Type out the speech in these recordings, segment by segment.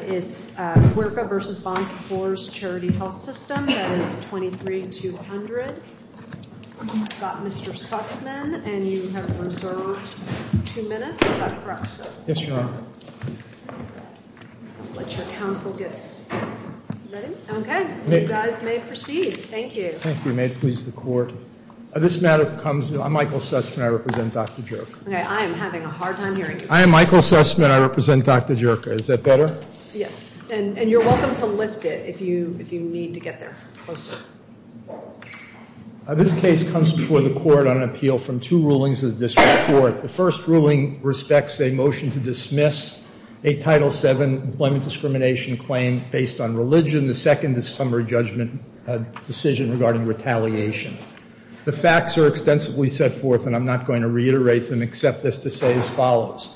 It's Guurca v. Bon Secours Charity Health System, that is 23-200. We've got Mr. Sussman, and you have reserved two minutes. Is that correct, sir? Yes, Your Honor. I'll let your counsel get ready. Okay. You guys may proceed. Thank you. Thank you. May it please the Court. This matter comes—I'm Michael Sussman. I represent Dr. Jurca. Okay. I am having a hard time hearing you. I am Michael Sussman. I represent Dr. Jurca. Is that better? Yes. And you're welcome to lift it if you need to get there closer. This case comes before the Court on an appeal from two rulings of the District Court. The first ruling respects a motion to dismiss a Title VII employment discrimination claim based on religion. The second is a summary judgment decision regarding retaliation. The facts are extensively set forth, and I'm not going to reiterate them except as to say as follows.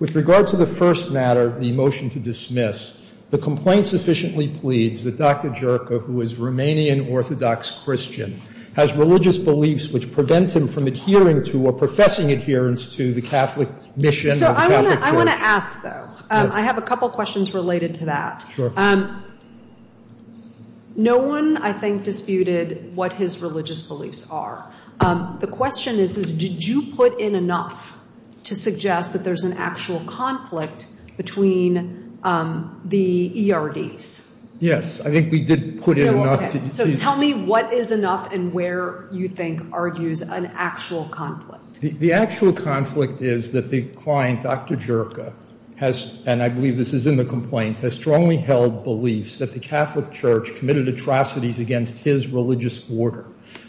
With regard to the first matter, the motion to dismiss, the complaint sufficiently pleads that Dr. Jurca, who is Romanian Orthodox Christian, has religious beliefs which prevent him from adhering to or professing adherence to the Catholic mission. So I want to ask, though. Yes. I have a couple questions related to that. Sure. No one, I think, disputed what his religious beliefs are. The question is, did you put in enough to suggest that there's an actual conflict between the ERDs? Yes. I think we did put in enough. So tell me what is enough and where you think argues an actual conflict. The actual conflict is that the client, Dr. Jurca, has, and I believe this is in the complaint, has strongly held beliefs that the Catholic Church committed atrocities against his religious order,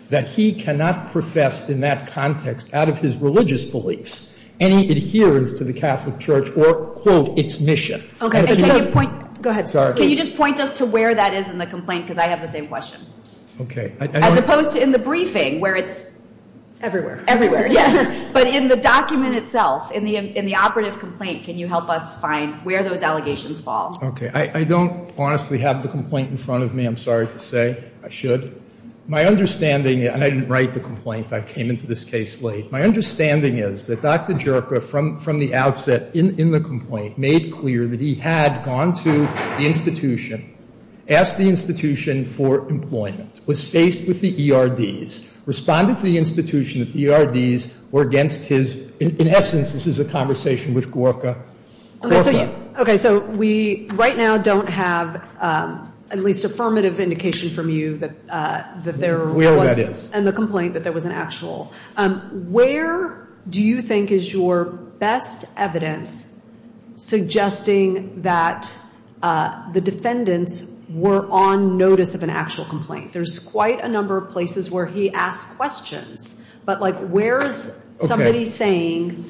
that he cannot profess in that context, out of his religious beliefs, any adherence to the Catholic Church or, quote, its mission. Okay. Go ahead. Sorry. Can you just point us to where that is in the complaint? Because I have the same question. Okay. As opposed to in the briefing where it's everywhere. Everywhere, yes. But in the document itself, in the operative complaint, can you help us find where those allegations fall? Okay. I don't honestly have the complaint in front of me, I'm sorry to say. I should. My understanding, and I didn't write the complaint. I came into this case late. My understanding is that Dr. Jurca, from the outset in the complaint, made clear that he had gone to the institution, asked the institution for employment, was faced with the ERDs, responded to the institution that the ERDs were against his, in essence, this is a conversation with Jurca. Okay. So we right now don't have at least affirmative indication from you that there was. Where that is. And the complaint that there was an actual. Where do you think is your best evidence suggesting that the defendants were on notice of an actual complaint? There's quite a number of places where he asked questions. But, like, where is somebody saying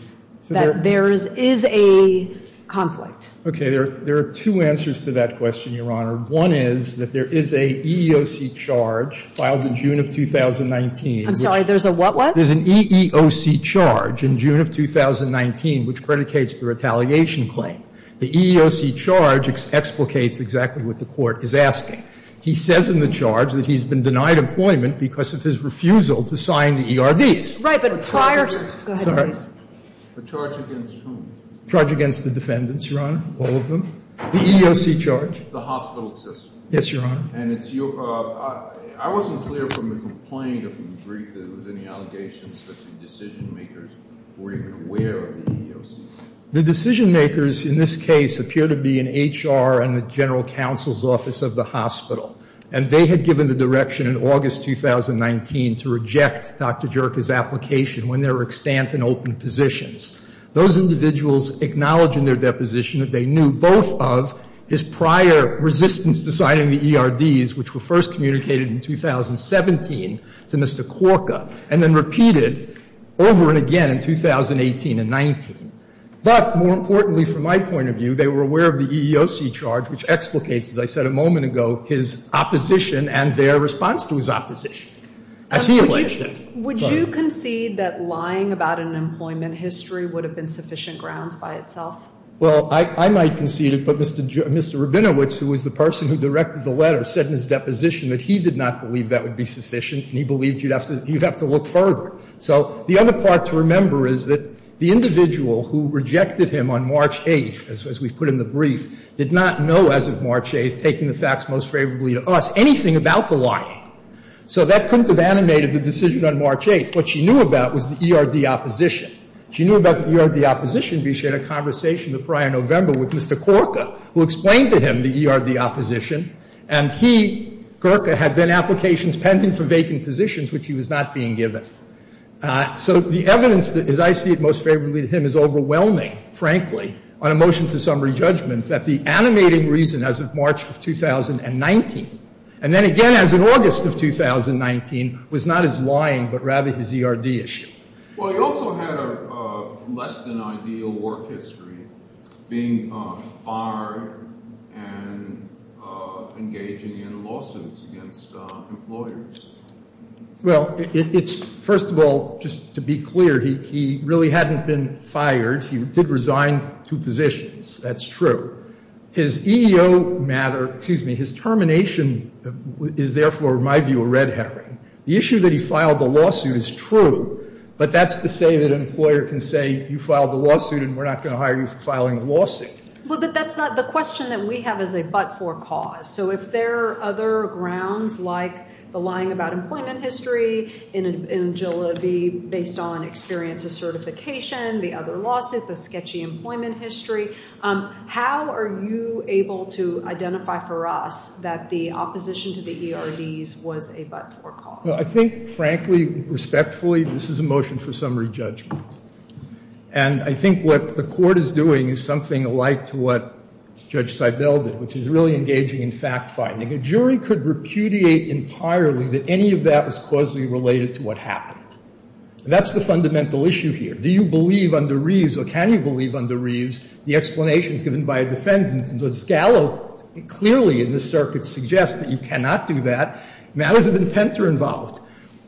that there is a conflict? Okay. There are two answers to that question, Your Honor. One is that there is a EEOC charge filed in June of 2019. I'm sorry. There's a what what? There's an EEOC charge in June of 2019 which predicates the retaliation claim. The EEOC charge explicates exactly what the Court is asking. He says in the charge that he's been denied employment because of his refusal to sign the ERDs. Right. But prior to. Go ahead, please. The charge against whom? The charge against the defendants, Your Honor. All of them. The EEOC charge. The hospital system. Yes, Your Honor. And it's your. I wasn't clear from the complaint or from the brief that there was any allegations that the decision-makers were even aware of the EEOC. The decision-makers in this case appear to be in HR and the general counsel's office of the hospital, and they had given the direction in August 2019 to reject Dr. Jerka's application when there were extant and open positions. Those individuals acknowledge in their deposition that they knew both of his prior resistance to signing the ERDs, which were first communicated in 2017 to Mr. Korka and then repeated over and again in 2018 and 19. But more importantly, from my point of view, they were aware of the EEOC charge, which explicates, as I said a moment ago, his opposition and their response to his opposition. As he alleged it. Would you concede that lying about an employment history would have been sufficient grounds by itself? Well, I might concede it, but Mr. Rabinowitz, who was the person who directed the letter, said in his deposition that he did not believe that would be sufficient and he believed you'd have to look further. So the other part to remember is that the individual who rejected him on March 8th, as we put in the brief, did not know as of March 8th, taking the facts most favorably to us, anything about the lying. So that couldn't have animated the decision on March 8th. What she knew about was the ERD opposition. She knew about the ERD opposition because she had a conversation the prior November with Mr. Korka, who explained to him the ERD opposition, and he, Korka, had then applications pending for vacant positions, which he was not being given. So the evidence, as I see it most favorably to him, is overwhelming, frankly, on a motion for summary judgment that the animating reason as of March of 2019, and then again as of August of 2019, was not his lying but rather his ERD issue. Well, he also had a less than ideal work history, being fired and engaging in lawsuits against employers. Well, it's, first of all, just to be clear, he really hadn't been fired. He did resign two positions. That's true. His EEO matter, excuse me, his termination is therefore, in my view, a red herring. The issue that he filed the lawsuit is true, but that's to say that an employer can say you filed a lawsuit and we're not going to hire you for filing a lawsuit. Well, but that's not the question that we have as a but-for cause. So if there are other grounds like the lying about employment history in Angela V. based on experience of certification, the other lawsuit, the sketchy employment history, how are you able to identify for us that the opposition to the ERDs was a but-for cause? Well, I think, frankly, respectfully, this is a motion for summary judgment. And I think what the court is doing is something alike to what Judge Seibel did, which is really engaging in fact-finding. A jury could repudiate entirely that any of that was causally related to what happened. And that's the fundamental issue here. Do you believe under Reeves or can you believe under Reeves the explanations given by a defendant? And the scallop clearly in this circuit suggests that you cannot do that. Matters of intent are involved.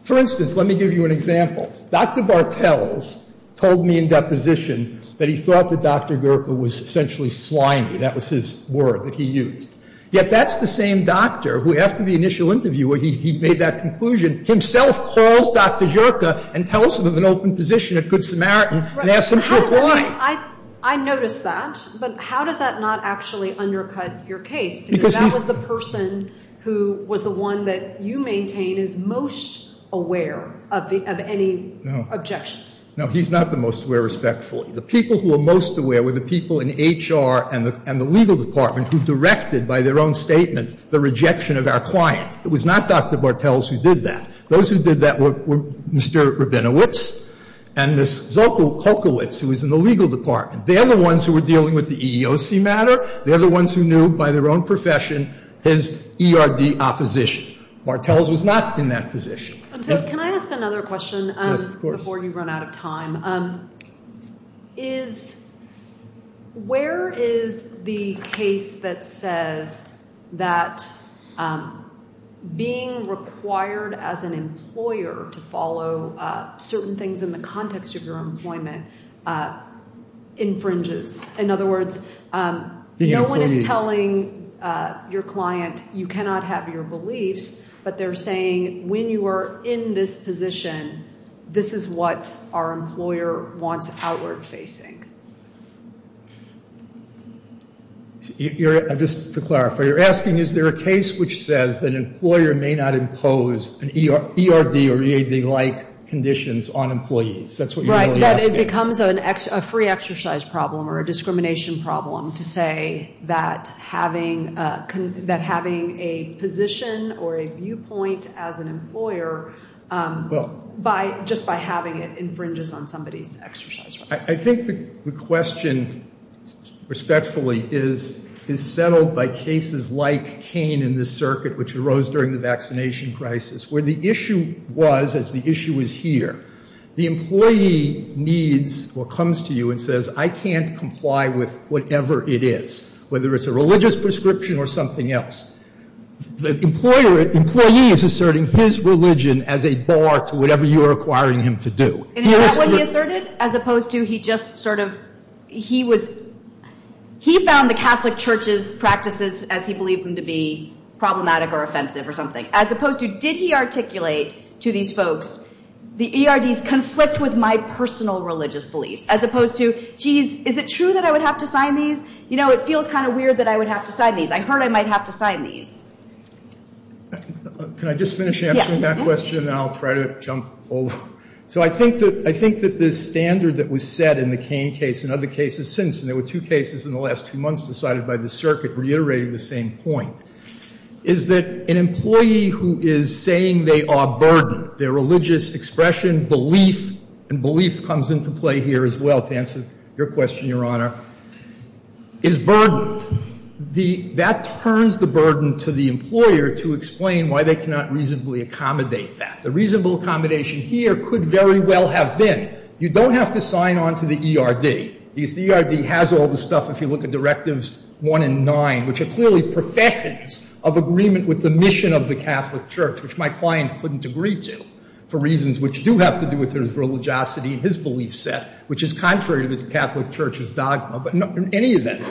For instance, let me give you an example. Dr. Bartels told me in deposition that he thought that Dr. Gerke was essentially slimy. That was his word that he used. Yet that's the same doctor who, after the initial interview where he made that conclusion, himself calls Dr. Gerke and tells him of an open position at Good Samaritan and asks him to apply. I noticed that. But how does that not actually undercut your case? Because that was the person who was the one that you maintain is most aware of any objections. No, he's not the most aware, respectfully. The people who are most aware were the people in HR and the legal department who directed by their own statement the rejection of our client. It was not Dr. Bartels who did that. Those who did that were Mr. Rabinowitz and Ms. Zolkowicz, who was in the legal department. They're the ones who were dealing with the EEOC matter. They're the ones who knew by their own profession his ERD opposition. Bartels was not in that position. Can I ask another question before you run out of time? Yes, of course. Where is the case that says that being required as an employer to follow certain things in the context of your employment infringes? In other words, no one is telling your client you cannot have your beliefs, but they're saying when you are in this position, this is what our employer wants outward facing. Just to clarify, you're asking is there a case which says that an employer may not impose an ERD or EAD-like conditions on employees? That's what you're really asking. Right, that it becomes a free exercise problem or a discrimination problem to say that having a position or a viewpoint as an employer just by having it infringes on somebody's exercise rights. I think the question, respectfully, is settled by cases like Cain in this circuit, which arose during the vaccination crisis, where the issue was, as the issue is here, the employee needs or comes to you and says, I can't comply with whatever it is, whether it's a religious prescription or something else. The employee is asserting his religion as a bar to whatever you are requiring him to do. Isn't that what he asserted? As opposed to he just sort of, he was, he found the Catholic church's practices as he believed them to be problematic or offensive or something. As opposed to, did he articulate to these folks, the ERDs conflict with my personal religious beliefs? As opposed to, geez, is it true that I would have to sign these? You know, it feels kind of weird that I would have to sign these. I heard I might have to sign these. Can I just finish answering that question and then I'll try to jump over? So I think that the standard that was set in the Cain case and other cases since, and there were two cases in the last two months decided by the circuit reiterating the same point, is that an employee who is saying they are burdened, their religious expression, belief, and belief comes into play here as well to answer your question, Your Honor, is burdened. That turns the burden to the employer to explain why they cannot reasonably accommodate that. The reasonable accommodation here could very well have been, you don't have to sign on to the ERD, because the ERD has all the stuff if you look at Directives 1 and 9, which are clearly professions of agreement with the mission of the Catholic church, which my client couldn't agree to for reasons which do have to do with his religiosity and his belief set, which is contrary to the Catholic church's dogma. But in any event,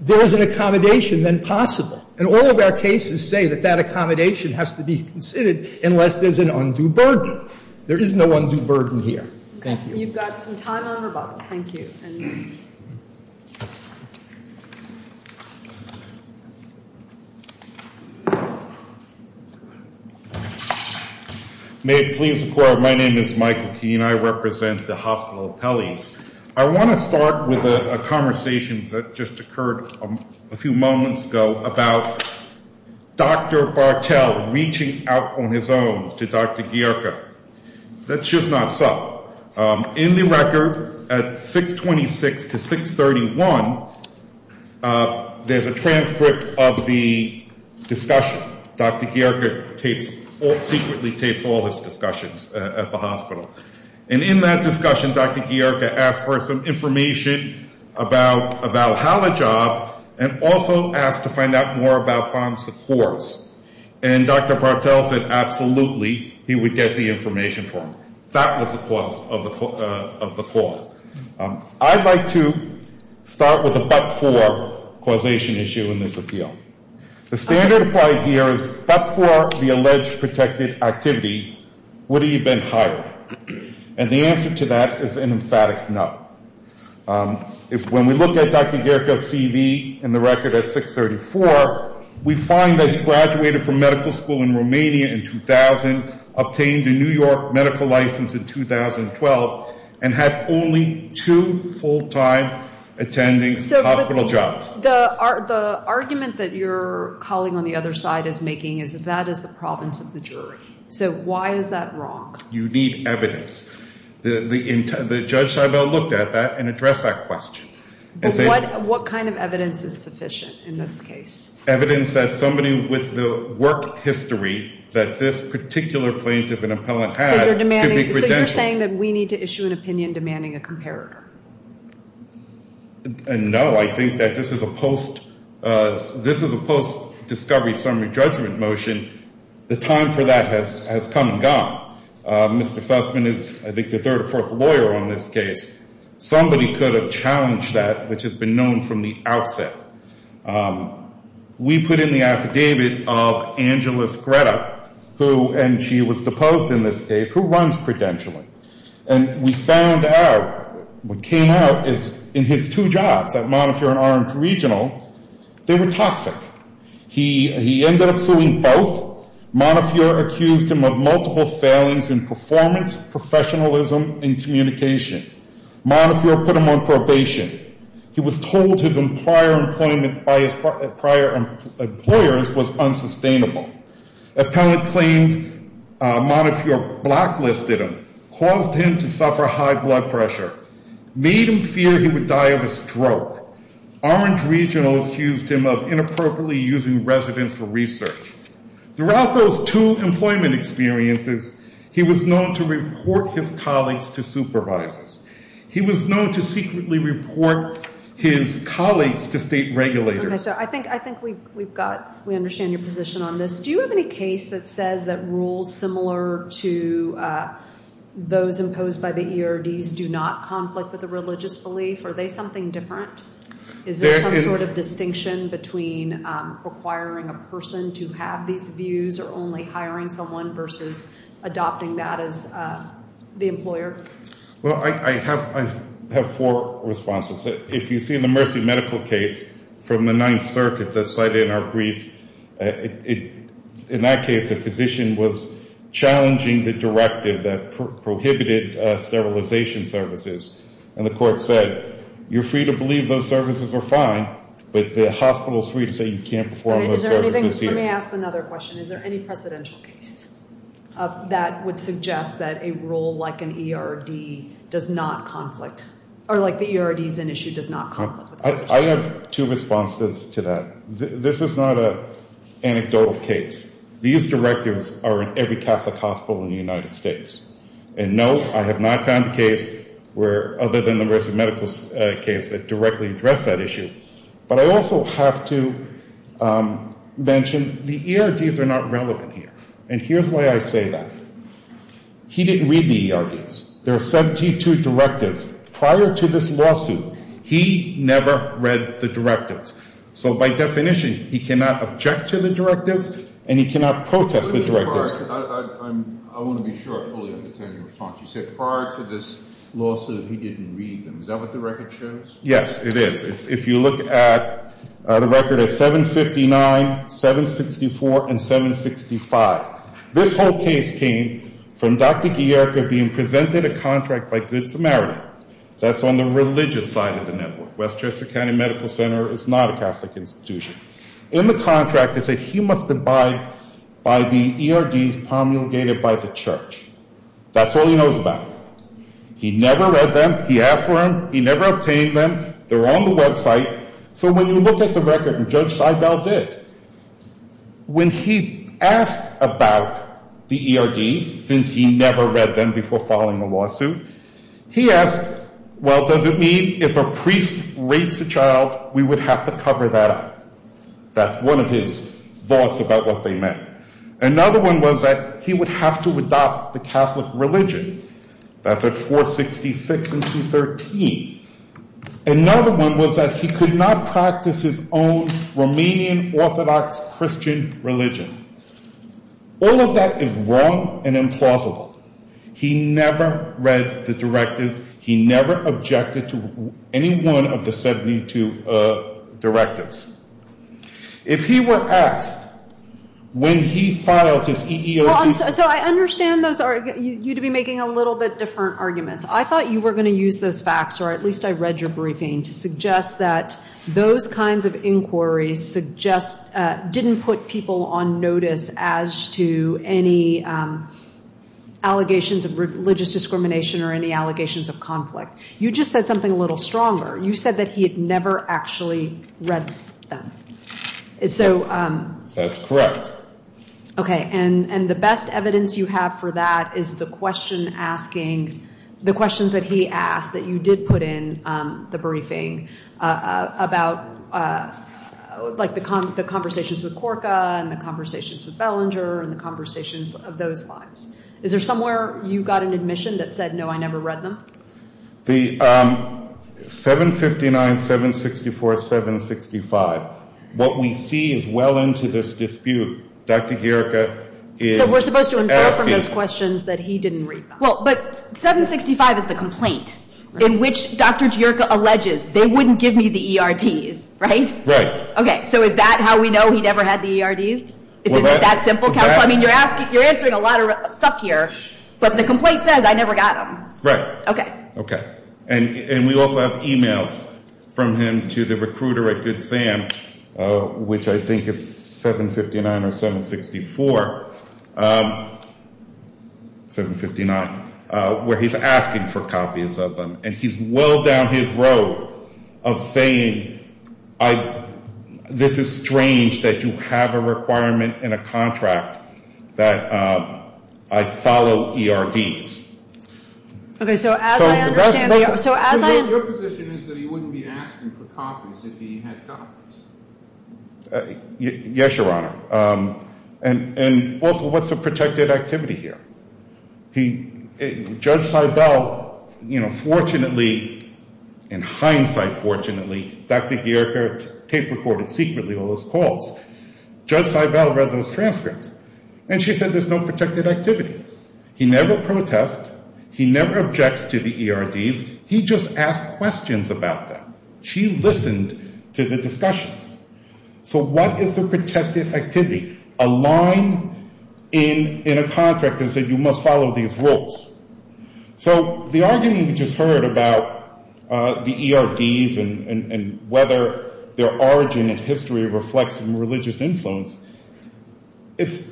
there is an accommodation then possible. And all of our cases say that that accommodation has to be considered unless there's an undue burden. There is no undue burden here. Thank you. You've got some time on your button. Thank you. May it please the Court, my name is Michael Keene. I represent the Hospital of Pelley's. I want to start with a conversation that just occurred a few moments ago about Dr. Bartel reaching out on his own to Dr. Gierka. That's just not so. In the record at 626 to 631, there's a transcript of the discussion. Dr. Gierka secretly tapes all his discussions at the hospital. And in that discussion, Dr. Gierka asked for some information about how the job and also asked to find out more about bond supports. And Dr. Bartel said absolutely he would get the information for him. That was the cause of the call. I'd like to start with a but-for causation issue in this appeal. The standard applied here is but-for the alleged protected activity, would he have been hired? And the answer to that is an emphatic no. When we look at Dr. Gierka's CV in the record at 634, we find that he graduated from medical school in Romania in 2000, obtained a New York medical license in 2012, and had only two full-time attending hospital jobs. So the argument that your colleague on the other side is making is that that is the province of the jury. So why is that wrong? You need evidence. The judge looked at that and addressed that question. What kind of evidence is sufficient in this case? Evidence that somebody with the work history that this particular plaintiff and appellant had could be credentialed. So you're saying that we need to issue an opinion demanding a comparator? No, I think that this is a post-discovery summary judgment motion. The time for that has come and gone. Mr. Sussman is, I think, the third or fourth lawyer on this case. Somebody could have challenged that, which has been known from the outset. We put in the affidavit of Angeles Greta, who, and she was deposed in this case, who runs credentialing. And we found out, what came out is, in his two jobs at Montefiore and Orange Regional, they were toxic. He ended up suing both. Montefiore accused him of multiple failings in performance, professionalism, and communication. Montefiore put him on probation. He was told his prior employment by his prior employers was unsustainable. Appellant claimed Montefiore blacklisted him, caused him to suffer high blood pressure, made him fear he would die of a stroke. Orange Regional accused him of inappropriately using residents for research. Throughout those two employment experiences, he was known to report his colleagues to supervisors. He was known to secretly report his colleagues to state regulators. Okay, so I think we've got, we understand your position on this. Do you have any case that says that rules similar to those imposed by the ERDs do not conflict with a religious belief? Are they something different? Is there some sort of distinction between requiring a person to have these views or only hiring someone versus adopting that as the employer? Well, I have four responses. If you see in the Mercy Medical case from the Ninth Circuit that's cited in our brief, in that case a physician was challenging the directive that prohibited sterilization services. And the court said, you're free to believe those services are fine, but the hospital is free to say you can't perform those services either. Let me ask another question. Is there any precedential case that would suggest that a rule like an ERD does not conflict, or like the ERDs in issue does not conflict with that? I have two responses to that. This is not an anecdotal case. These directives are in every Catholic hospital in the United States. And, no, I have not found a case other than the Mercy Medical case that directly addressed that issue. But I also have to mention the ERDs are not relevant here. And here's why I say that. He didn't read the ERDs. There are 72 directives. Prior to this lawsuit, he never read the directives. So by definition, he cannot object to the directives, and he cannot protest the directives. I want to be sure I fully understand your response. You said prior to this lawsuit, he didn't read them. Is that what the record shows? Yes, it is. If you look at the record of 759, 764, and 765, this whole case came from Dr. Gierka being presented a contract by Good Samaritan. That's on the religious side of the network. Westchester County Medical Center is not a Catholic institution. In the contract, they say he must abide by the ERDs promulgated by the church. That's all he knows about. He never read them. He asked for them. He never obtained them. They're on the website. So when you look at the record, and Judge Seibel did, when he asked about the ERDs, since he never read them before filing the lawsuit, he asked, well, does it mean if a priest rapes a child, we would have to cover that up? That's one of his thoughts about what they meant. Another one was that he would have to adopt the Catholic religion. That's at 466 and 213. Another one was that he could not practice his own Romanian Orthodox Christian religion. All of that is wrong and implausible. He never read the directive. He never objected to any one of the 72 directives. If he were asked when he filed his EEOC. So I understand you'd be making a little bit different arguments. I thought you were going to use those facts, or at least I read your briefing, to suggest that those kinds of inquiries didn't put people on notice as to any allegations of religious discrimination or any allegations of conflict. You just said something a little stronger. You said that he had never actually read them. That's correct. Okay, and the best evidence you have for that is the question asking, the questions that he asked that you did put in the briefing about the conversations with Corka and the conversations with Bellinger and the conversations of those lines. Is there somewhere you got an admission that said, no, I never read them? The 759, 764, 765, what we see as well into this dispute, Dr. Gierke is asking. So we're supposed to infer from those questions that he didn't read them. Well, but 765 is the complaint in which Dr. Gierke alleges they wouldn't give me the ERDs, right? Right. Okay, so is that how we know he never had the ERDs? Is it that simple? I mean, you're answering a lot of stuff here, but the complaint says I never got them. Right. Okay. Okay. And we also have e-mails from him to the recruiter at Good Sam, which I think is 759 or 764, 759, where he's asking for copies of them, and he's well down his road of saying, this is strange that you have a requirement in a contract that I follow ERDs. Okay. So as I understand, so as I am. Your position is that he wouldn't be asking for copies if he had copies. Yes, Your Honor. And also, what's the protected activity here? Judge Seibel, you know, fortunately, in hindsight fortunately, Dr. Gierke tape recorded secretly all those calls. Judge Seibel read those transcripts, and she said there's no protected activity. He never protests. He never objects to the ERDs. He just asks questions about them. She listened to the discussions. So what is the protected activity? A line in a contract that said you must follow these rules. So the argument we just heard about the ERDs and whether their origin in history reflects religious influence, it's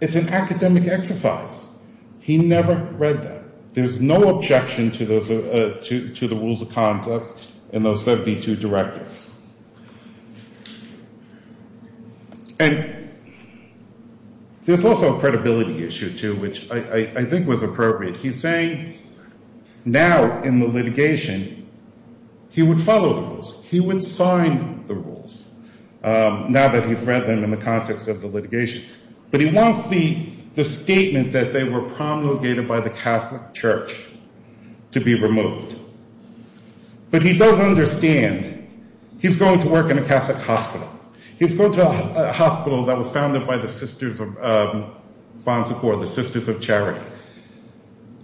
an academic exercise. He never read that. There's no objection to the rules of conduct in those 72 directives. And there's also a credibility issue, too, which I think was appropriate. He's saying now in the litigation he would follow the rules. He would sign the rules now that he's read them in the context of the litigation. But he wants the statement that they were promulgated by the Catholic Church to be removed. But he does understand he's going to work in a Catholic hospital. He's going to a hospital that was founded by the Sisters of Bon Secours, the Sisters of Charity.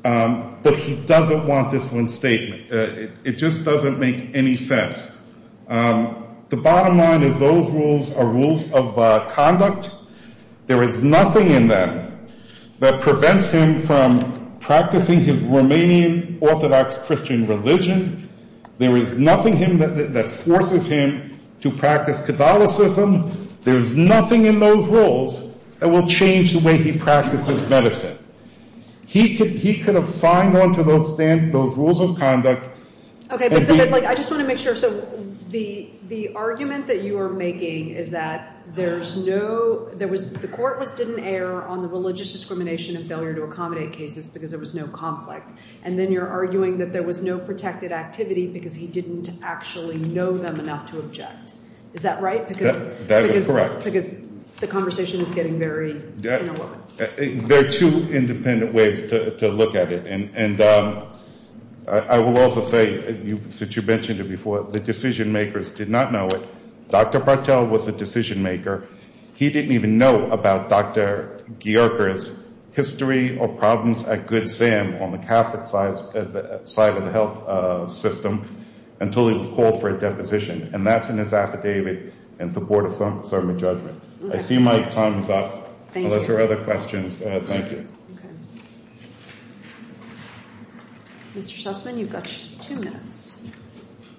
But he doesn't want this one statement. It just doesn't make any sense. The bottom line is those rules are rules of conduct. There is nothing in them that prevents him from practicing his Romanian Orthodox Christian religion. There is nothing in them that forces him to practice Catholicism. There is nothing in those rules that will change the way he practices medicine. He could have signed on to those rules of conduct. Okay, but I just want to make sure. So the argument that you are making is that there's no ‑‑ the court didn't err on the religious discrimination and failure to accommodate cases because there was no conflict. And then you're arguing that there was no protected activity because he didn't actually know them enough to object. Is that right? That is correct. Because the conversation is getting very interwoven. There are two independent ways to look at it. And I will also say, since you mentioned it before, the decision makers did not know it. Dr. Bartel was a decision maker. He didn't even know about Dr. Gierker's history or problems at Good Sam on the Catholic side of the health system until he was called for a deposition. And that's in his affidavit in support of sermon judgment. I see my time is up. Thank you. Unless there are other questions, thank you. Okay. Mr. Sussman, you've got two minutes.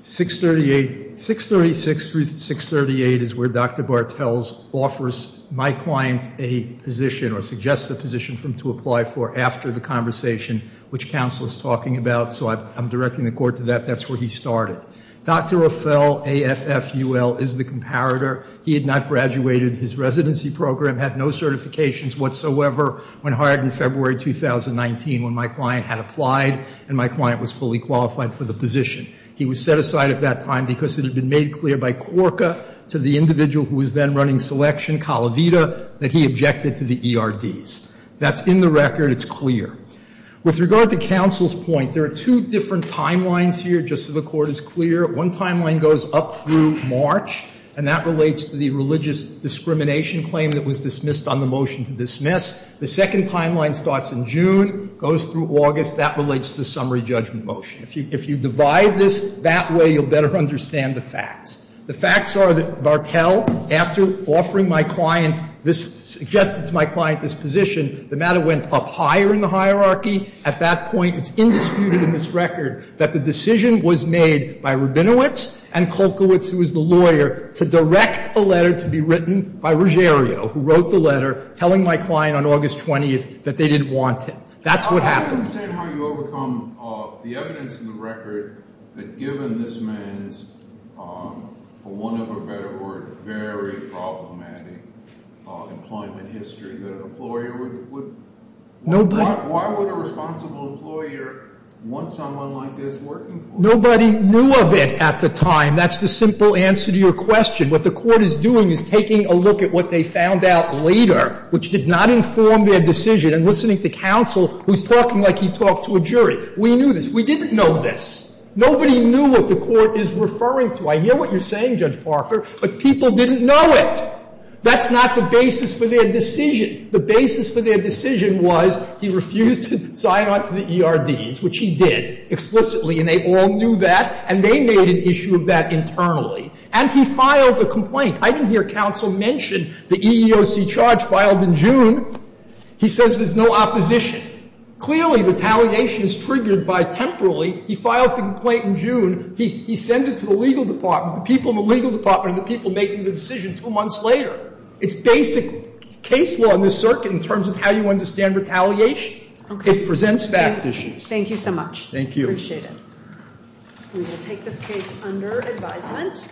638, 636 through 638 is where Dr. Bartel offers my client a position or suggests a position for him to apply for after the conversation, which counsel is talking about. So I'm directing the court to that. That's where he started. Dr. Ophel, AFFUL, is the comparator. He had not graduated. His residency program had no certifications whatsoever. Went hard in February 2019 when my client had applied and my client was fully qualified for the position. He was set aside at that time because it had been made clear by Corker to the individual who was then running selection, Calavita, that he objected to the ERDs. That's in the record. It's clear. With regard to counsel's point, there are two different timelines here, just so the Court is clear. One timeline goes up through March, and that relates to the religious discrimination claim that was dismissed on the motion to dismiss. The second timeline starts in June, goes through August. That relates to the summary judgment motion. If you divide this that way, you'll better understand the facts. The facts are that Bartel, after offering my client this, suggested to my client this position, the matter went up higher in the hierarchy. At that point, it's indisputed in this record that the decision was made by Rabinowitz and Kolkowitz, who was the lawyer, to direct the letter to be written by Ruggiero, who wrote the letter, telling my client on August 20th that they didn't want him. That's what happened. Nobody knew of it at the time. That's the simple answer to your question. What the Court is doing is taking a look at what they found out later, which did not We knew this. We didn't know this. Nobody knew what the Court is referring to. I hear what you're saying, Judge Parker, but people didn't know it. That's not the basis for their decision. The basis for their decision was he refused to sign on to the ERDs, which he did, explicitly, and they all knew that, and they made an issue of that internally. And he filed the complaint. I didn't hear counsel mention the EEOC charge filed in June. He says there's no opposition. Clearly, retaliation is triggered by temporally. He files the complaint in June. He sends it to the legal department, the people in the legal department, and the people making the decision two months later. It's basic case law in this circuit in terms of how you understand retaliation. It presents fact issues. Thank you so much. Thank you. I appreciate it. We will take this case under advisement.